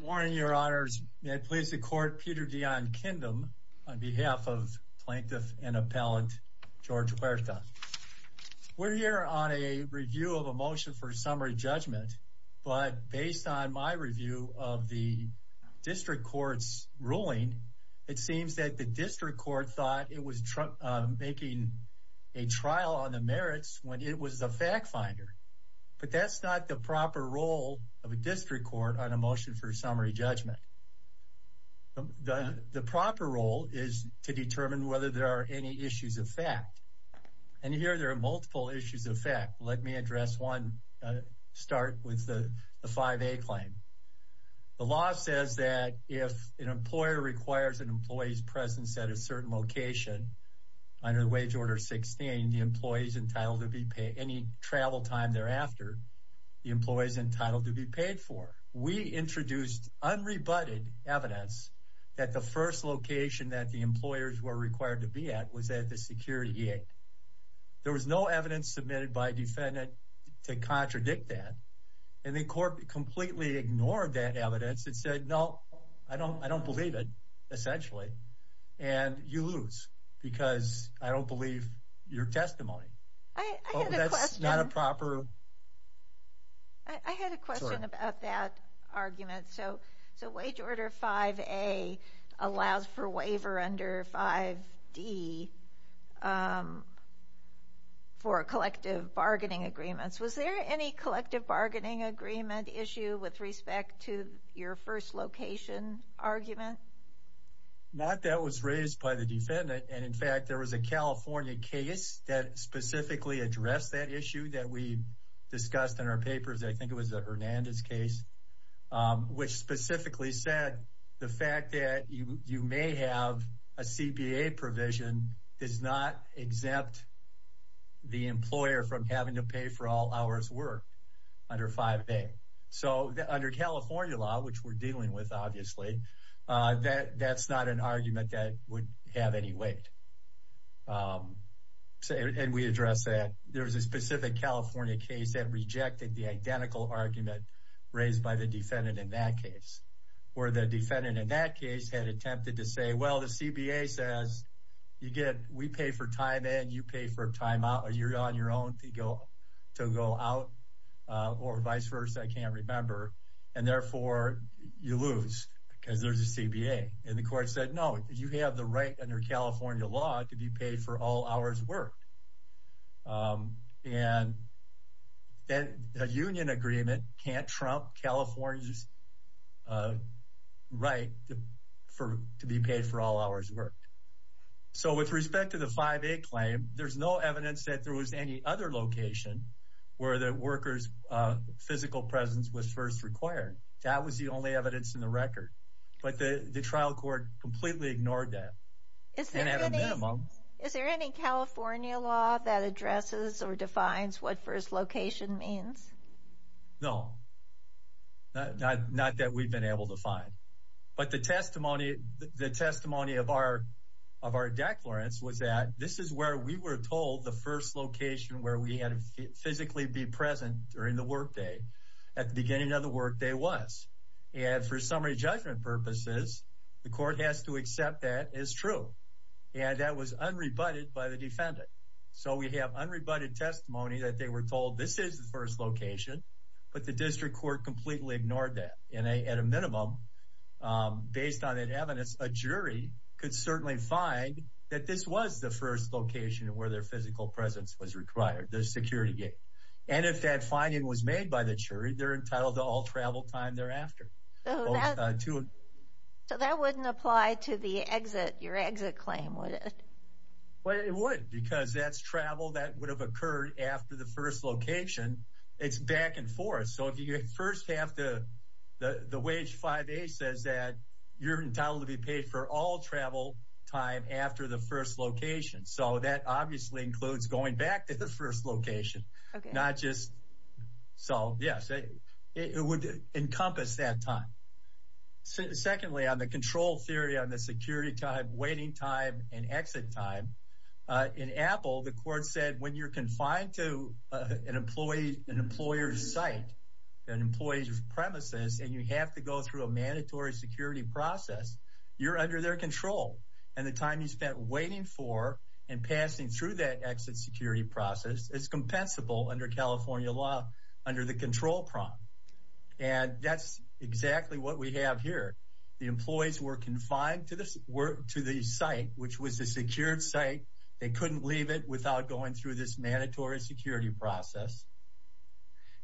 Morning, Your Honors. May it please the Court, Peter Dion Kindem on behalf of Plaintiff and Appellant George Huerta. We're here on a review of a motion for summary judgment, but based on my review of the District Court's ruling, it seems that the District Court thought it was making a trial on the merits when it was the fact finder. But that's not the proper role of a District Court on a motion for summary judgment. The proper role is to determine whether there are any issues of fact. And here there are multiple issues of fact. Let me address one. Start with the 5A claim. The law says that if an employer requires an employee's presence at a certain location under the wage order 16, meaning the employee is entitled to be paid any travel time thereafter, the employee is entitled to be paid for. We introduced unrebutted evidence that the first location that the employers were required to be at was at the security gate. There was no evidence submitted by defendant to contradict that. And the court completely ignored that evidence and said, no, I don't I don't believe it, essentially. And you lose because I don't believe your testimony. That's not a proper. I had a question about that argument. So the wage order 5A allows for waiver under 5D for collective bargaining agreements. Was there any collective bargaining agreement issue with respect to your first location argument? Not that was raised by the defendant. And in fact, there was a California case that specifically addressed that issue that we discussed in our papers. I think it was a Hernandez case which specifically said the fact that you may have a CPA provision is not exempt. The employer from having to pay for all hours work under 5A. So under California law, which we're dealing with, obviously, that that's not an argument that would have any weight. And we address that. There was a specific California case that rejected the identical argument raised by the defendant in that case, where the defendant in that case had attempted to say, well, the CBA says you get we pay for time and you pay for time out or you're on your own to go to go out or vice versa. I can't remember. And therefore you lose because there's a CBA. And the court said, no, you have the right under California law to be paid for all hours work. And then a union agreement can't trump California's right to be paid for all hours work. So with respect to the 5A claim, there's no evidence that there was any other location where the workers physical presence was first required. That was the only evidence in the record. But the trial court completely ignored that. And at a minimum. Is there any California law that addresses or defines what first location means? No. Not that we've been able to find. But the testimony of our declarants was that this is where we were told the first location where we had to physically be present during the workday at the beginning of the workday was. And for summary judgment purposes, the court has to accept that is true. And that was unrebutted by the defendant. So we have unrebutted testimony that they were told this is the first location. But the district court completely ignored that. And at a minimum, based on an evidence, a jury could certainly find that this was the first location where their physical presence was required. The security gate. And if that finding was made by the jury, they're entitled to all travel time thereafter. So that wouldn't apply to the exit, your exit claim, would it? Well, it would because that's travel that would have occurred after the first location. It's back and forth. So if you get first half the the wage 5A says that you're entitled to be paid for all travel time after the first location. So that obviously includes going back to the first location, not just. So, yes, it would encompass that time. Secondly, on the control theory on the security time, waiting time and exit time in Apple, the court said, when you're confined to an employee, an employer's site, an employee's premises, and you have to go through a mandatory security process, you're under their control. And the time you spent waiting for and passing through that exit security process is compensable under California law under the control prompt. And that's exactly what we have here. The employees were confined to this work to the site, which was a secured site. They couldn't leave it without going through this mandatory security process.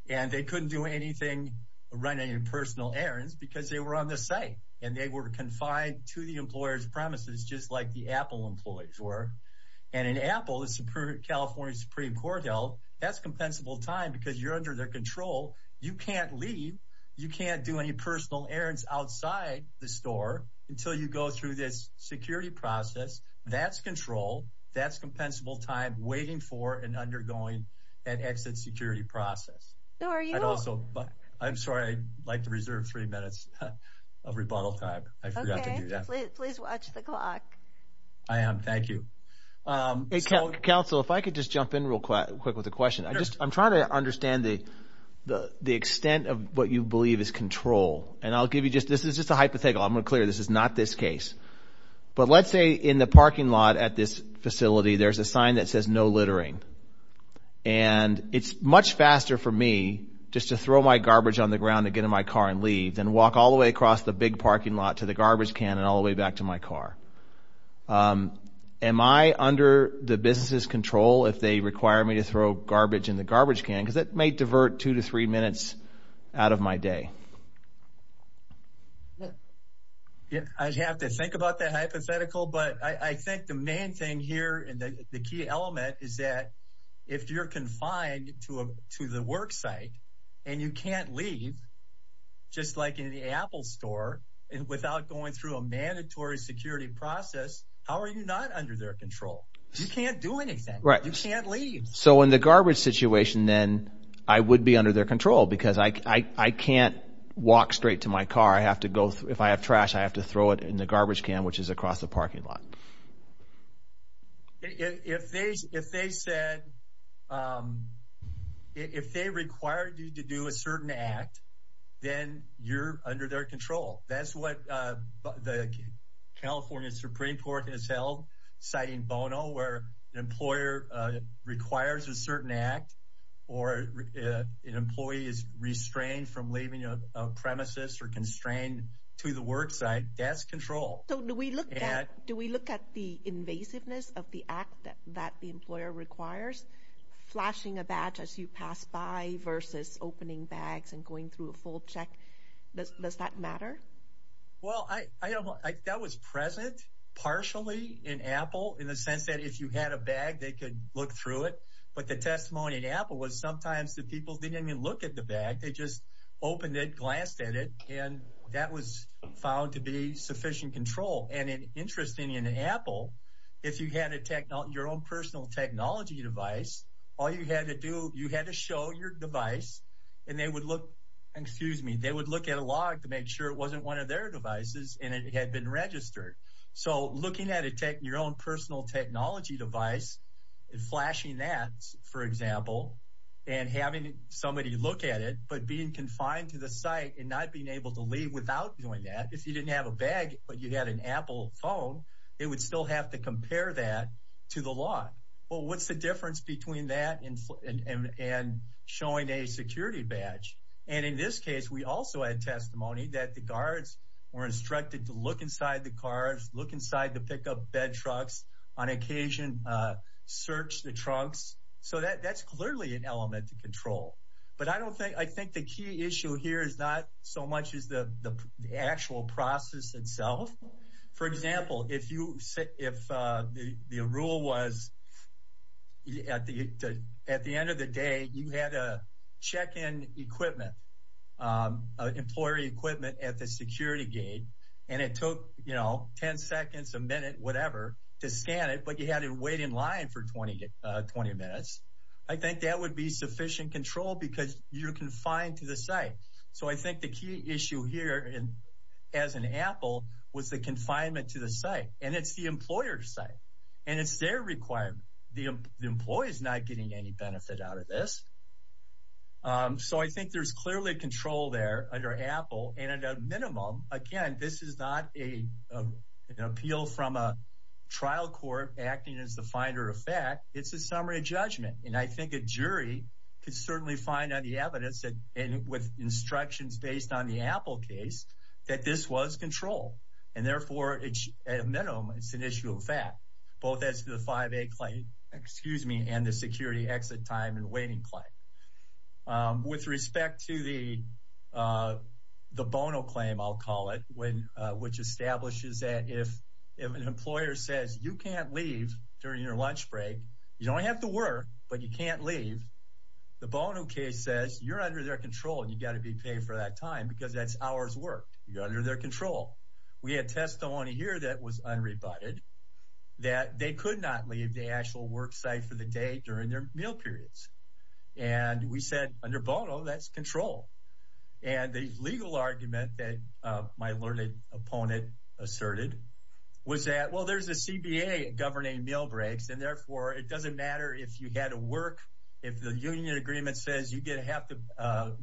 And they couldn't do anything, run any personal errands because they were on the site and they were confined to the employer's premises, just like the Apple employees were. And in Apple, the Supreme California Supreme Court held that's compensable time because you're under their control. You can't leave. You can't do any personal errands outside the store until you go through this security process. That's control. That's compensable time waiting for and undergoing that exit security process. I'm sorry. I'd like to reserve three minutes of rebuttal time. I forgot to do that. Please watch the clock. I am. Thank you. Counsel, if I could just jump in real quick with a question. I'm trying to understand the extent of what you believe is control. And I'll give you just – this is just a hypothetical. I'm going to clear this. This is not this case. But let's say in the parking lot at this facility there's a sign that says no littering. And it's much faster for me just to throw my garbage on the ground and get in my car and leave than walk all the way across the big parking lot to the garbage can and all the way back to my car. Am I under the business's control if they require me to throw garbage in the garbage can? Because that may divert two to three minutes out of my day. I'd have to think about that hypothetical. But I think the main thing here and the key element is that if you're confined to the worksite and you can't leave just like in the Apple store without going through a mandatory security process, how are you not under their control? You can't do anything. You can't leave. So in the garbage situation then I would be under their control because I can't walk straight to my car. If I have trash, I have to throw it in the garbage can, which is across the parking lot. If they said – if they require you to do a certain act, then you're under their control. That's what the California Supreme Court has held, citing Bono, where an employer requires a certain act or an employee is restrained from leaving a premises or constrained to the worksite. That's control. So do we look at the invasiveness of the act that the employer requires, flashing a badge as you pass by versus opening bags and going through a full check? Does that matter? Well, that was present partially in Apple in the sense that if you had a bag, they could look through it. But the testimony in Apple was sometimes the people didn't even look at the bag. They just opened it, glanced at it, and that was found to be sufficient control. And interestingly in Apple, if you had your own personal technology device, all you had to do – you had to show your device and they would look – excuse me. They would look at a log to make sure it wasn't one of their devices and it had been registered. So looking at your own personal technology device and flashing that, for example, and having somebody look at it but being confined to the site and not being able to leave without doing that. If you didn't have a bag but you had an Apple phone, they would still have to compare that to the law. Well, what's the difference between that and showing a security badge? And in this case, we also had testimony that the guards were instructed to look inside the cars, look inside the pickup bed trucks, on occasion search the trunks. So that's clearly an element of control. But I don't think – I think the key issue here is not so much as the actual process itself. For example, if the rule was at the end of the day you had to check in equipment, employee equipment at the security gate and it took 10 seconds, a minute, whatever to scan it but you had to wait in line for 20 minutes. I think that would be sufficient control because you're confined to the site. So I think the key issue here as an Apple was the confinement to the site. And it's the employer's site. And it's their requirement. The employee is not getting any benefit out of this. So I think there's clearly control there under Apple. And at a minimum, again, this is not an appeal from a trial court acting as the finder of fact. It's a summary of judgment. And I think a jury could certainly find on the evidence and with instructions based on the Apple case that this was control. And therefore, at a minimum, it's an issue of fact, both as to the 5A claim, excuse me, and the security exit time and waiting claim. With respect to the bono claim, I'll call it, which establishes that if an employer says you can't leave during your lunch break, you don't have to work but you can't leave, the bono case says you're under their control and you've got to be paid for that time because that's hours worked. You're under their control. We had testimony here that was unrebutted that they could not leave the actual work site for the day during their meal periods. And we said under bono, that's control. And the legal argument that my learned opponent asserted was that, well, there's a CBA governing meal breaks. And therefore, it doesn't matter if you had to work, if the union agreement says you get half the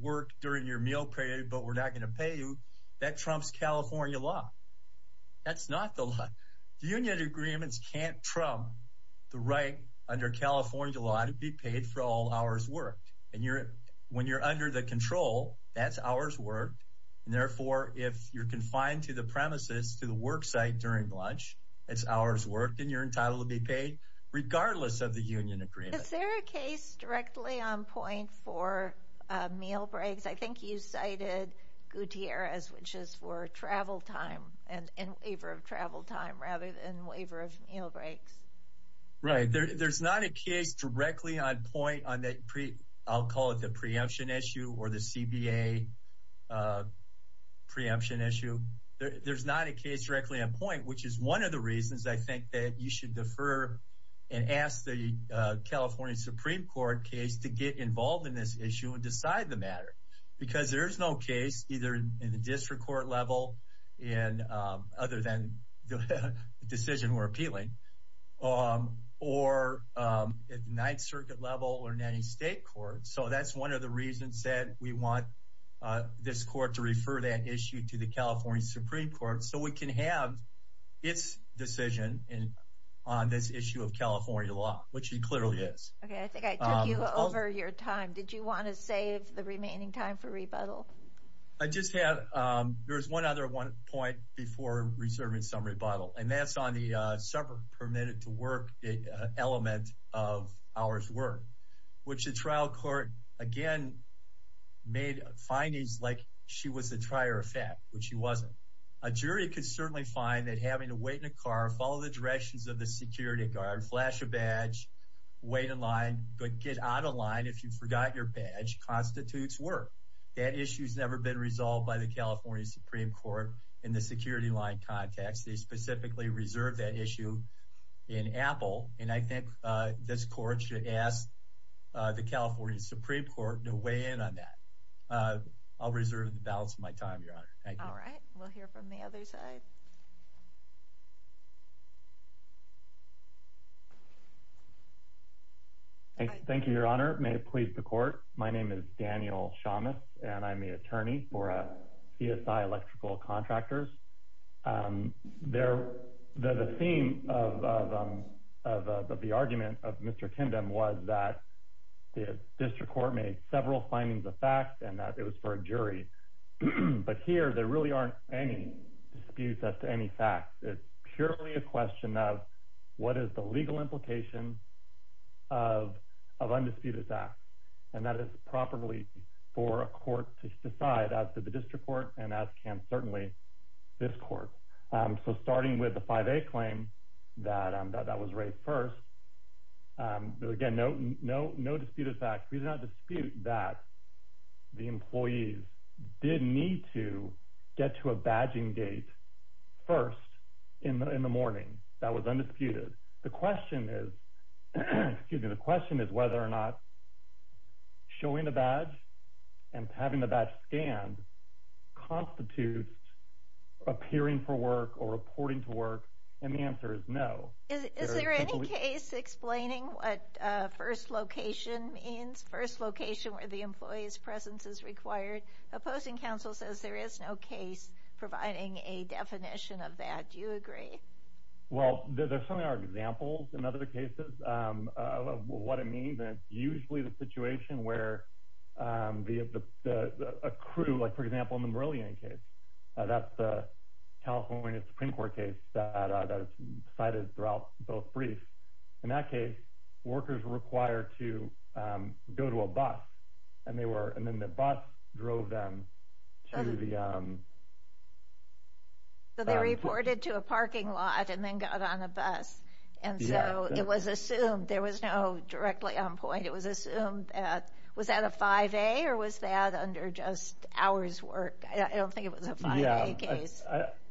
work during your meal period but we're not going to pay you, that trumps California law. That's not the law. The union agreements can't trump the right under California law to be paid for all hours worked. And when you're under the control, that's hours worked. And therefore, if you're confined to the premises, to the work site during lunch, it's hours worked and you're entitled to be paid regardless of the union agreement. Is there a case directly on point for meal breaks? I think you cited Gutierrez, which is for travel time and waiver of travel time rather than waiver of meal breaks. Right. There's not a case directly on point on that. I'll call it the preemption issue or the CBA preemption issue. There's not a case directly on point, which is one of the reasons I think that you should defer and ask the California Supreme Court case to get involved in this issue and decide the matter. Because there is no case either in the district court level and other than the decision we're appealing or at Ninth Circuit level or in any state court. So that's one of the reasons that we want this court to refer that issue to the California Supreme Court so we can have its decision on this issue of California law, which he clearly is. OK, I think I took you over your time. Did you want to save the remaining time for rebuttal? I just have there's one other one point before reserving some rebuttal, and that's on the summer permitted to work element of hours work, which the trial court again made findings like she was the trier of fact, which she wasn't. A jury could certainly find that having to wait in a car, follow the directions of the security guard, flash a badge, wait in line, but get out of line if you forgot your badge constitutes work. That issue has never been resolved by the California Supreme Court in the security line context. They specifically reserve that issue in Apple. And I think this court should ask the California Supreme Court to weigh in on that. I'll reserve the balance of my time. All right. We'll hear from the other side. Thank you, Your Honor. May it please the court. My name is Daniel Shamus, and I'm the attorney for PSI Electrical Contractors there. The theme of the argument of Mr. Kindem was that the district court made several findings of facts and that it was for a jury. But here there really aren't any disputes as to any fact. It's purely a question of what is the legal implication of of undisputed facts? And that is properly for a court to decide as to the district court and as can certainly this court. So starting with the 5A claim that that was raised first, again, no, no, no disputed facts. We do not dispute that the employees did need to get to a badging gate first in the morning. That was undisputed. The question is whether or not showing a badge and having the badge scanned constitutes appearing for work or reporting to work. And the answer is no. Is there any case explaining what first location means? First location where the employee's presence is required? Opposing counsel says there is no case providing a definition of that. Do you agree? Well, there certainly are examples in other cases of what it means. And it's usually the situation where a crew, like, for example, in the Merlion case, that's a California Supreme Court case that is cited throughout both briefs. In that case, workers were required to go to a bus and they were and then the bus drove them to the. So they reported to a parking lot and then got on the bus. And so it was assumed there was no directly on point. It was assumed that was that a 5A or was that under just hours work? I don't think it was a 5A case.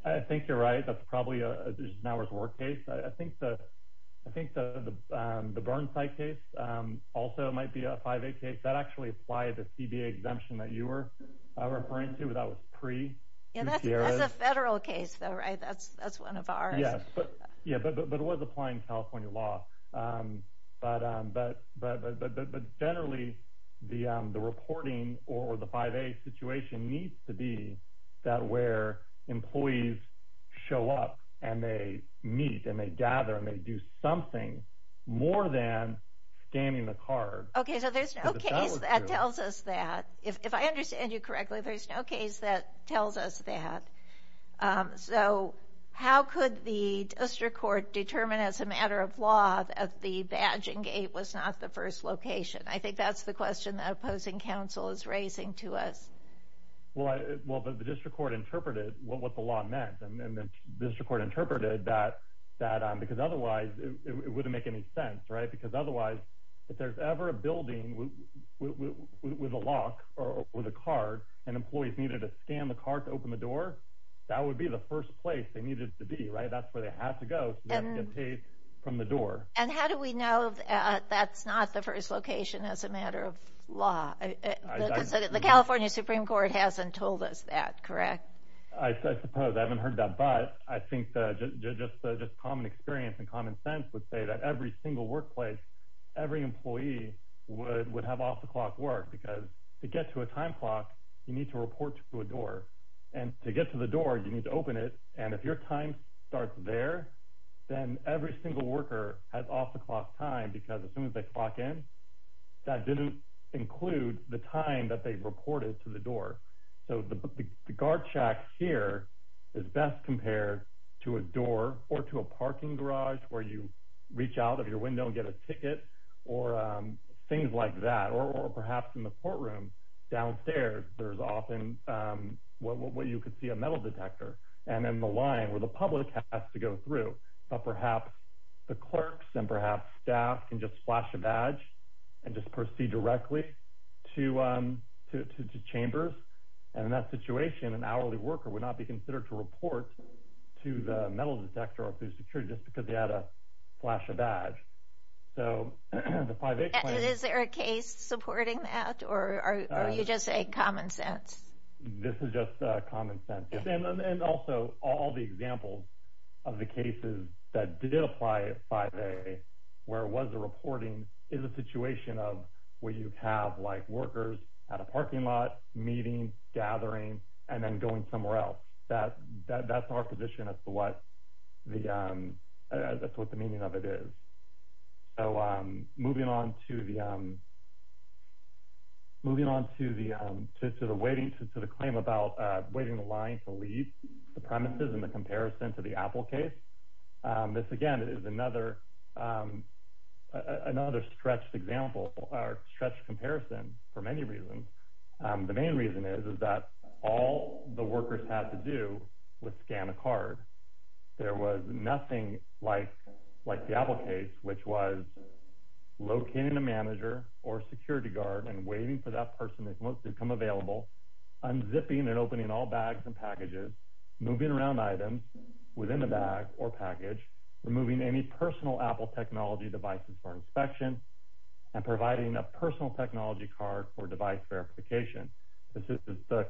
I think you're right. That's probably an hours work case. I think the Burnside case also might be a 5A case. That actually applied to CBA exemption that you were referring to. That was pre. Yeah, that's a federal case, though, right? That's one of ours. Yeah, but it was applying California law. But generally, the reporting or the 5A situation needs to be that where employees show up and they meet and they gather and they do something more than scanning the card. Okay, so there's no case that tells us that. If I understand you correctly, there's no case that tells us that. So how could the district court determine as a matter of law that the badging gate was not the first location? I think that's the question that opposing counsel is raising to us. Well, the district court interpreted what the law meant. And the district court interpreted that because otherwise it wouldn't make any sense, right? Because otherwise if there's ever a building with a lock or with a card and employees needed to scan the card to open the door, that would be the first place they needed to be, right? That's where they have to go to get paid from the door. And how do we know that's not the first location as a matter of law? The California Supreme Court hasn't told us that, correct? I suppose. I haven't heard that. But I think just common experience and common sense would say that every single workplace, every employee would have off-the-clock work because to get to a time clock, you need to report to a door. And to get to the door, you need to open it. And if your time starts there, then every single worker has off-the-clock time because as soon as they clock in, that didn't include the time that they reported to the door. So the guard shack here is best compared to a door or to a parking garage where you reach out of your window and get a ticket or things like that. Or perhaps in the courtroom downstairs, there's often what you could see a metal detector. And then the line where the public has to go through. But perhaps the clerks and perhaps staff can just flash a badge and just proceed directly to chambers. And in that situation, an hourly worker would not be considered to report to the metal detector or food security just because they had to flash a badge. So the 5-H plan— Is there a case supporting that? Or are you just saying common sense? This is just common sense. And also, all the examples of the cases that did apply 5-A, where it was a reporting, is a situation of where you have workers at a parking lot meeting, gathering, and then going somewhere else. That's our position as to what the meaning of it is. So moving on to the claim about waiting in line to leave the premises and the comparison to the Apple case. This, again, is another stretched comparison for many reasons. The main reason is that all the workers had to do was scan a card. There was nothing like the Apple case, which was locating a manager or security guard and waiting for that person that wants to become available, unzipping and opening all bags and packages, moving around items within the bag or package, removing any personal Apple technology devices for inspection, and providing a personal technology card for device verification. Again, this is a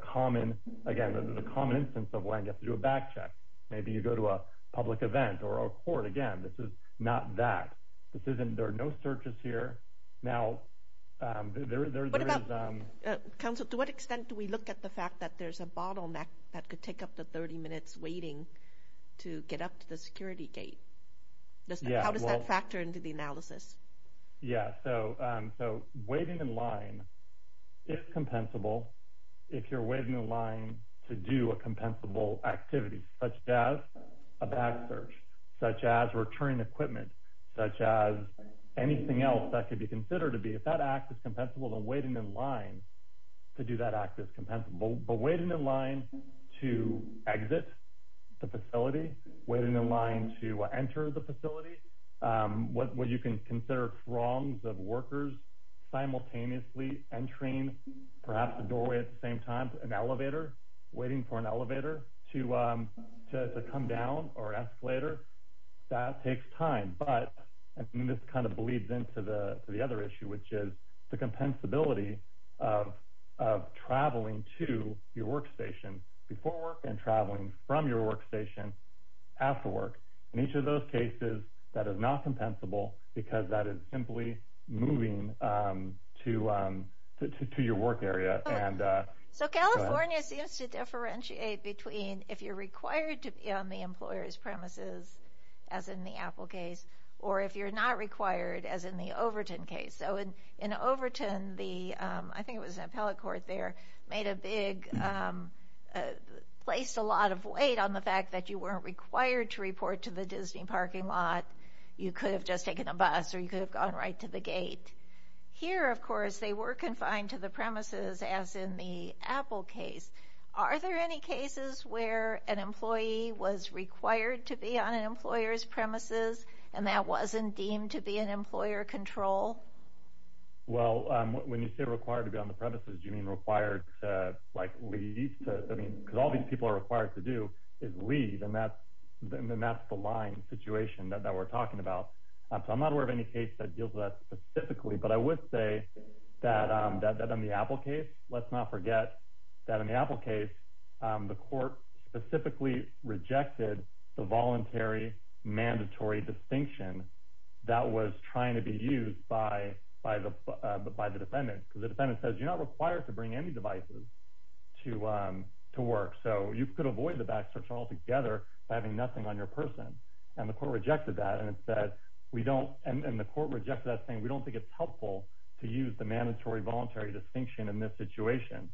common instance of why you have to do a bag check. Maybe you go to a public event or a court. Again, this is not that. There are no searches here. Now, there is— What about—Council, to what extent do we look at the fact that there's a bottleneck that could take up to 30 minutes waiting to get up to the security gate? How does that factor into the analysis? Yeah, so waiting in line is compensable if you're waiting in line to do a compensable activity, such as a bag search, such as returning equipment, such as anything else that could be considered to be. If that act is compensable, then waiting in line to do that act is compensable. But waiting in line to exit the facility, waiting in line to enter the facility, what you can consider wrongs of workers simultaneously entering, perhaps, the doorway at the same time, an elevator, waiting for an elevator to come down or escalator, that takes time. But—and this kind of bleeds into the other issue, which is the compensability of traveling to your workstation before work and traveling from your workstation after work. In each of those cases, that is not compensable because that is simply moving to your work area. So California seems to differentiate between if you're required to be on the employer's premises, as in the Apple case, or if you're not required, as in the Overton case. So in Overton, the—I think it was an appellate court there—made a big—placed a lot of weight on the fact that you weren't required to report to the Disney parking lot. You could have just taken a bus or you could have gone right to the gate. Here, of course, they were confined to the premises, as in the Apple case. Are there any cases where an employee was required to be on an employer's premises and that wasn't deemed to be an employer control? Well, when you say required to be on the premises, you mean required to, like, leave? I mean, because all these people are required to do is leave, and that's the line situation that we're talking about. So I'm not aware of any case that deals with that specifically, but I would say that in the Apple case, let's not forget that in the Apple case, the court specifically rejected the voluntary mandatory distinction that was trying to be used by the defendant. Because the defendant says, you're not required to bring any devices to work, so you could avoid the backstretch altogether by having nothing on your person. And the court rejected that, and the court rejected that, saying, we don't think it's helpful to use the mandatory voluntary distinction in this situation.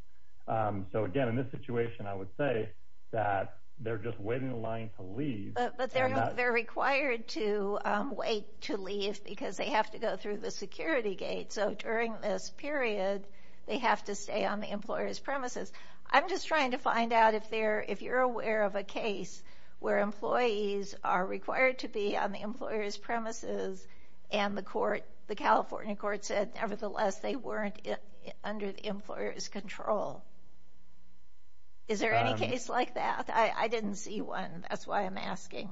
So again, in this situation, I would say that they're just waiting in line to leave. But they're required to wait to leave because they have to go through the security gate. So during this period, they have to stay on the employer's premises. I'm just trying to find out if you're aware of a case where employees are required to be on the employer's premises, and the California court said, nevertheless, they weren't under the employer's control. Is there any case like that? I didn't see one. That's why I'm asking.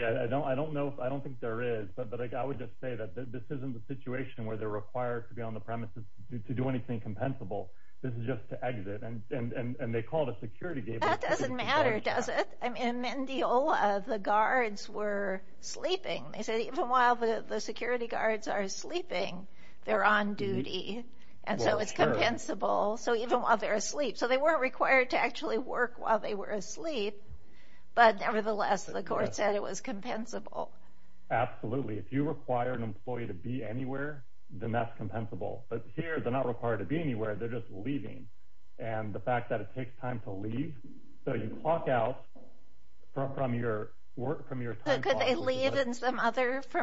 Yeah, I don't think there is. But I would just say that this isn't the situation where they're required to be on the premises to do anything compensable. This is just to exit, and they call it a security gate. That doesn't matter, does it? In Mendiola, the guards were sleeping. They said, even while the security guards are sleeping, they're on duty, and so it's compensable. So even while they're asleep. So they weren't required to actually work while they were asleep, but nevertheless, the court said it was compensable. Absolutely. If you require an employee to be anywhere, then that's compensable. But here, they're not required to be anywhere. They're just leaving. And the fact that it takes time to leave, so you clock out from your time clock. So could they leave from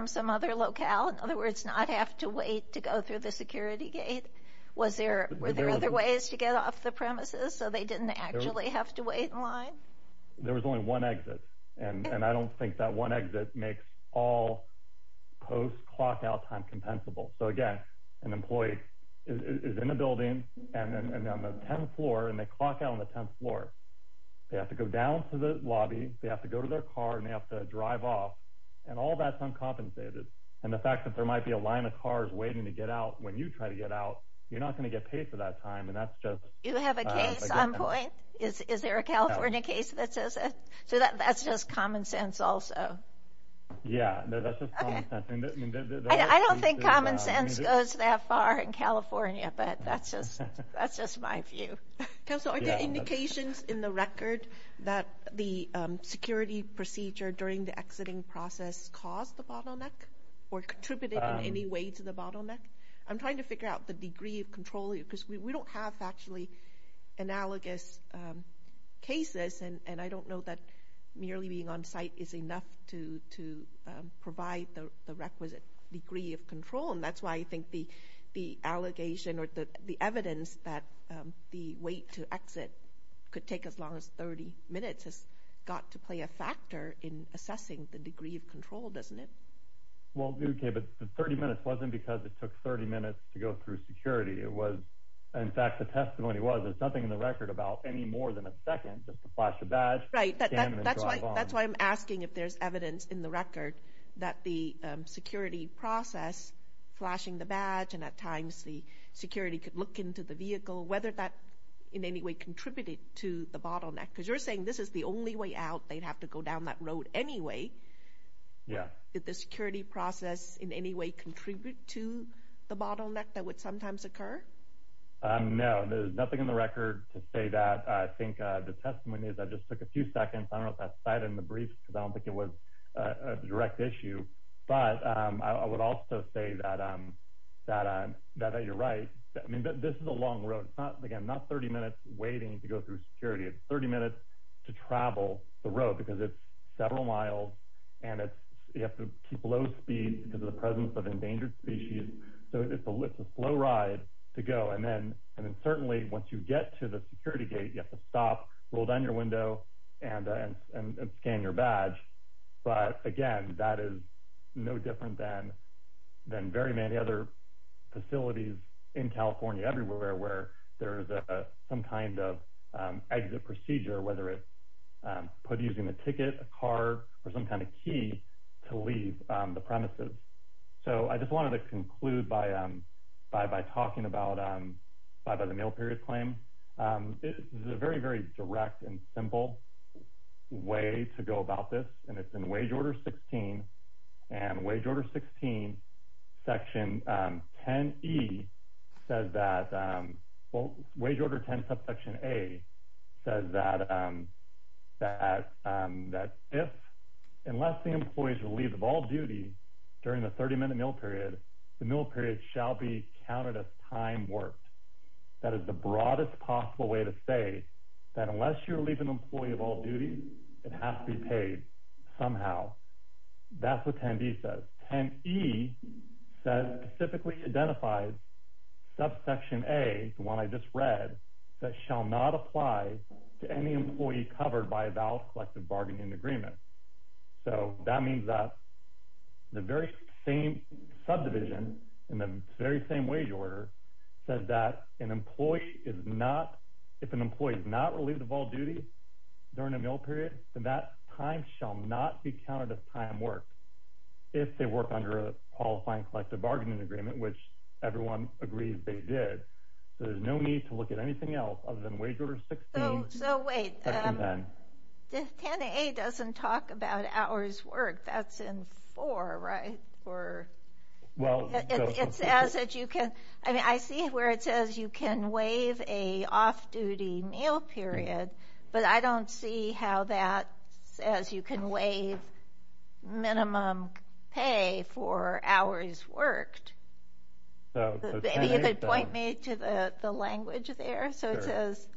some other locale? In other words, not have to wait to go through the security gate? Were there other ways to get off the premises so they didn't actually have to wait in line? There was only one exit, and I don't think that one exit makes all post-clockout time compensable. So again, an employee is in a building, and they're on the 10th floor, and they clock out on the 10th floor. They have to go down to the lobby, they have to go to their car, and they have to drive off, and all that's uncompensated. And the fact that there might be a line of cars waiting to get out when you try to get out, you're not going to get paid for that time, and that's just— Do you have a case on point? Is there a California case that says that? So that's just common sense also? Yeah, that's just common sense. I don't think common sense goes that far in California, but that's just my view. Counselor, are there indications in the record that the security procedure during the exiting process caused the bottleneck or contributed in any way to the bottleneck? I'm trying to figure out the degree of control, because we don't have actually analogous cases, and I don't know that merely being on site is enough to provide the requisite degree of control, and that's why I think the allegation or the evidence that the wait to exit could take as long as 30 minutes has got to play a factor in assessing the degree of control, doesn't it? Well, okay, but the 30 minutes wasn't because it took 30 minutes to go through security. In fact, the testimony was there's nothing in the record about any more than a second just to flash a badge, scan, and drive on. That's why I'm asking if there's evidence in the record that the security process, flashing the badge, and at times the security could look into the vehicle, whether that in any way contributed to the bottleneck, because you're saying this is the only way out, they'd have to go down that road anyway. Did the security process in any way contribute to the bottleneck that would sometimes occur? No, there's nothing in the record to say that. I think the testimony is I just took a few seconds. I don't know if that's cited in the brief, because I don't think it was a direct issue, but I would also say that you're right. I mean, this is a long road. Again, not 30 minutes waiting to go through security. It's 30 minutes to travel the road because it's several miles, and you have to keep low speed because of the presence of endangered species. So it's a slow ride to go, and then certainly once you get to the security gate, you have to stop, roll down your window, and scan your badge. But again, that is no different than very many other facilities in California, where there is some kind of exit procedure, whether it's using a ticket, a car, or some kind of key to leave the premises. So I just wanted to conclude by talking about the mail period claim. This is a very, very direct and simple way to go about this, and it's in Wage Order 16. Wage Order 16, Section 10E says that – Wage Order 10, Subsection A says that if and unless the employee is relieved of all duties during the 30-minute mail period, the mail period shall be counted as time worked. That is the broadest possible way to say that unless you relieve an employee of all duties, it has to be paid somehow. That's what 10E says. 10E specifically identifies Subsection A, the one I just read, that shall not apply to any employee covered by a valid collective bargaining agreement. So that means that the very same subdivision in the very same Wage Order says that an employee is not – if an employee is not relieved of all duties during a mail period, then that time shall not be counted as time worked if they work under a qualifying collective bargaining agreement, which everyone agrees they did. So there's no need to look at anything else other than Wage Order 16, Section 10. So wait, 10A doesn't talk about hours worked. That's in 4, right? It says that you can – I mean, I see where it says you can waive a off-duty mail period, but I don't see how that says you can waive minimum pay for hours worked. Maybe you could point me to the language there. So it says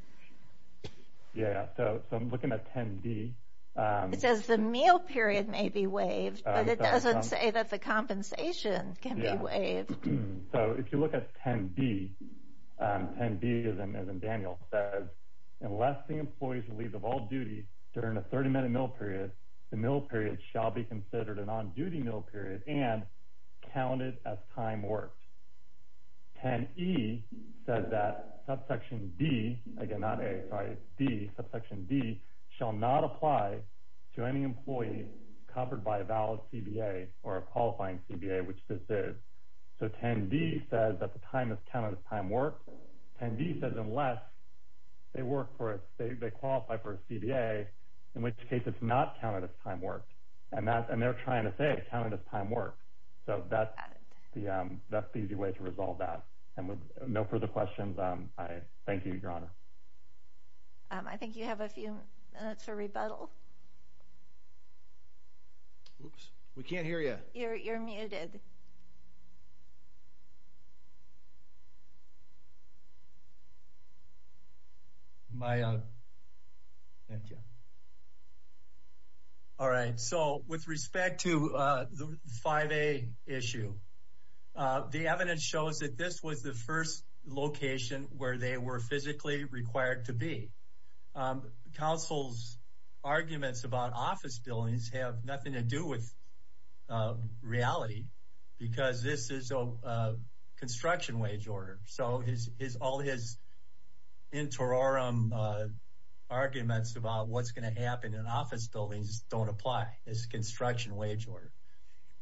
– Yeah, so I'm looking at 10B. It says the meal period may be waived, but it doesn't say that the compensation can be waived. So if you look at 10B, 10B, as in Daniel, says, unless the employee is relieved of all duties during a 30-minute mail period, the mail period shall be considered an on-duty mail period and counted as time worked. 10E says that Subsection D – again, not A, sorry, it's D – Subsection D shall not apply to any employee covered by a valid CBA or a qualifying CBA, which this is. So 10D says that the time is counted as time worked. 10D says unless they work for a – they qualify for a CBA, in which case it's not counted as time worked. And they're trying to say it's counted as time worked. So that's the easy way to resolve that. And with no further questions, I thank you, Your Honor. I think you have a few minutes for rebuttal. We can't hear you. You're muted. Am I on? Thank you. All right. So with respect to the 5A issue, the evidence shows that this was the first location where they were physically required to be. Counsel's arguments about office buildings have nothing to do with reality because this is a construction wage order. So all his interim arguments about what's going to happen in office buildings don't apply. It's a construction wage order.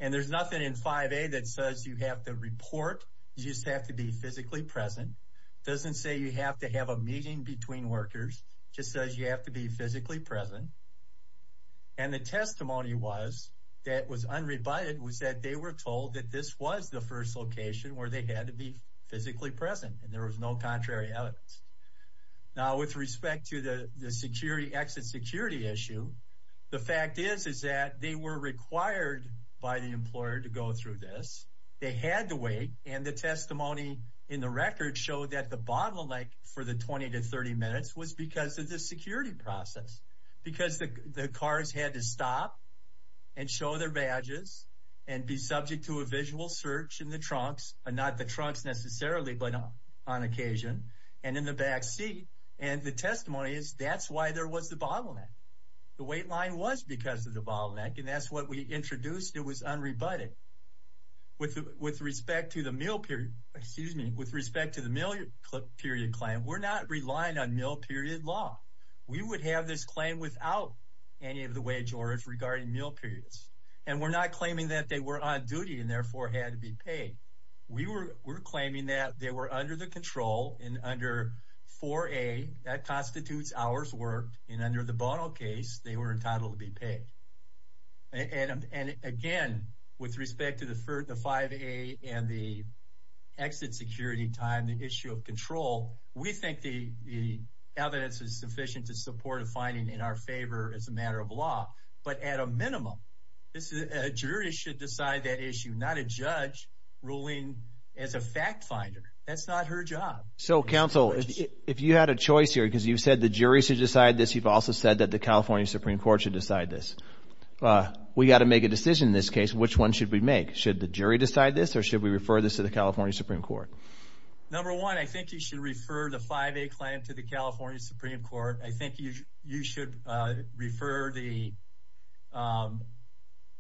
And there's nothing in 5A that says you have to report. You just have to be physically present. It doesn't say you have to have a meeting between workers. It just says you have to be physically present. And the testimony that was unrebutted was that they were told that this was the first location where they had to be physically present. And there was no contrary evidence. Now, with respect to the exit security issue, the fact is that they were required by the employer to go through this. They had to wait. And the testimony in the record showed that the bottleneck for the 20 to 30 minutes was because of the security process because the cars had to stop and show their badges and be subject to a visual search in the trunks, not the trunks necessarily, but on occasion, and in the backseat. And the testimony is that's why there was the bottleneck. The wait line was because of the bottleneck, and that's what we introduced. It was unrebutted. With respect to the meal period, excuse me, with respect to the meal period claim, we're not relying on meal period law. We would have this claim without any of the wage orders regarding meal periods. And we're not claiming that they were on duty and therefore had to be paid. We were claiming that they were under the control and under 4A. That constitutes hours worked. And under the Bono case, they were entitled to be paid. And, again, with respect to the 5A and the exit security time, the issue of control, we think the evidence is sufficient to support a finding in our favor as a matter of law. But at a minimum, a jury should decide that issue, not a judge ruling as a fact finder. That's not her job. So, counsel, if you had a choice here because you said the jury should decide this, you've also said that the California Supreme Court should decide this. We've got to make a decision in this case. Which one should we make? Should the jury decide this or should we refer this to the California Supreme Court? Number one, I think you should refer the 5A claim to the California Supreme Court. I think you should refer the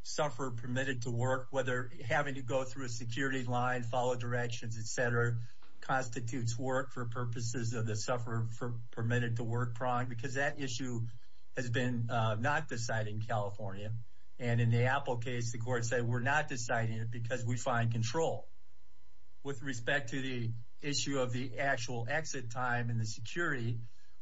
sufferer permitted to work, whether having to go through a security line, follow directions, et cetera, constitutes work for purposes of the sufferer permitted to work prong because that issue has been not decided in California. And in the Apple case, the court said we're not deciding it because we find control. With respect to the issue of the actual exit time and the security,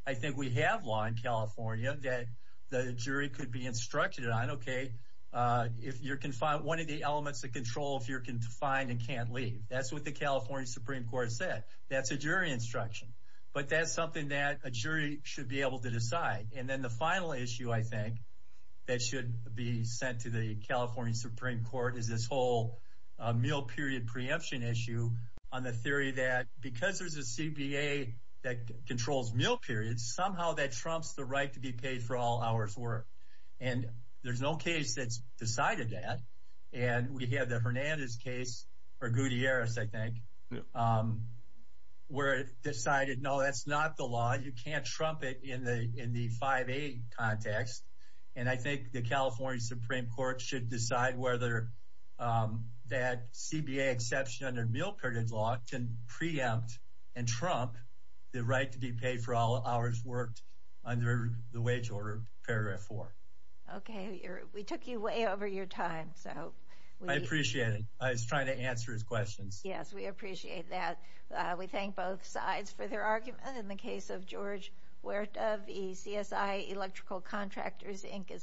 I think we have law in California that the jury could be instructed on, okay, if you're confined, one of the elements of control if you're confined and can't leave. That's what the California Supreme Court said. That's a jury instruction. But that's something that a jury should be able to decide. And then the final issue, I think, that should be sent to the California Supreme Court is this whole meal period preemption issue on the theory that because there's a CBA that controls meal periods, somehow that trumps the right to be paid for all hours worked. And there's no case that's decided that. And we have the Hernandez case, or Gutierrez, I think, where it's decided, no, that's not the law. You can't trump it in the 5A context. And I think the California Supreme Court should decide whether that CBA exception under meal period law can preempt and trump the right to be paid for all hours worked under the wage order, paragraph 4. Okay. We took you way over your time. I appreciate it. I was trying to answer his questions. Yes, we appreciate that. We thank both sides for their argument in the case of George Huerta. The CSI Electrical Contractors, Inc. is submitted.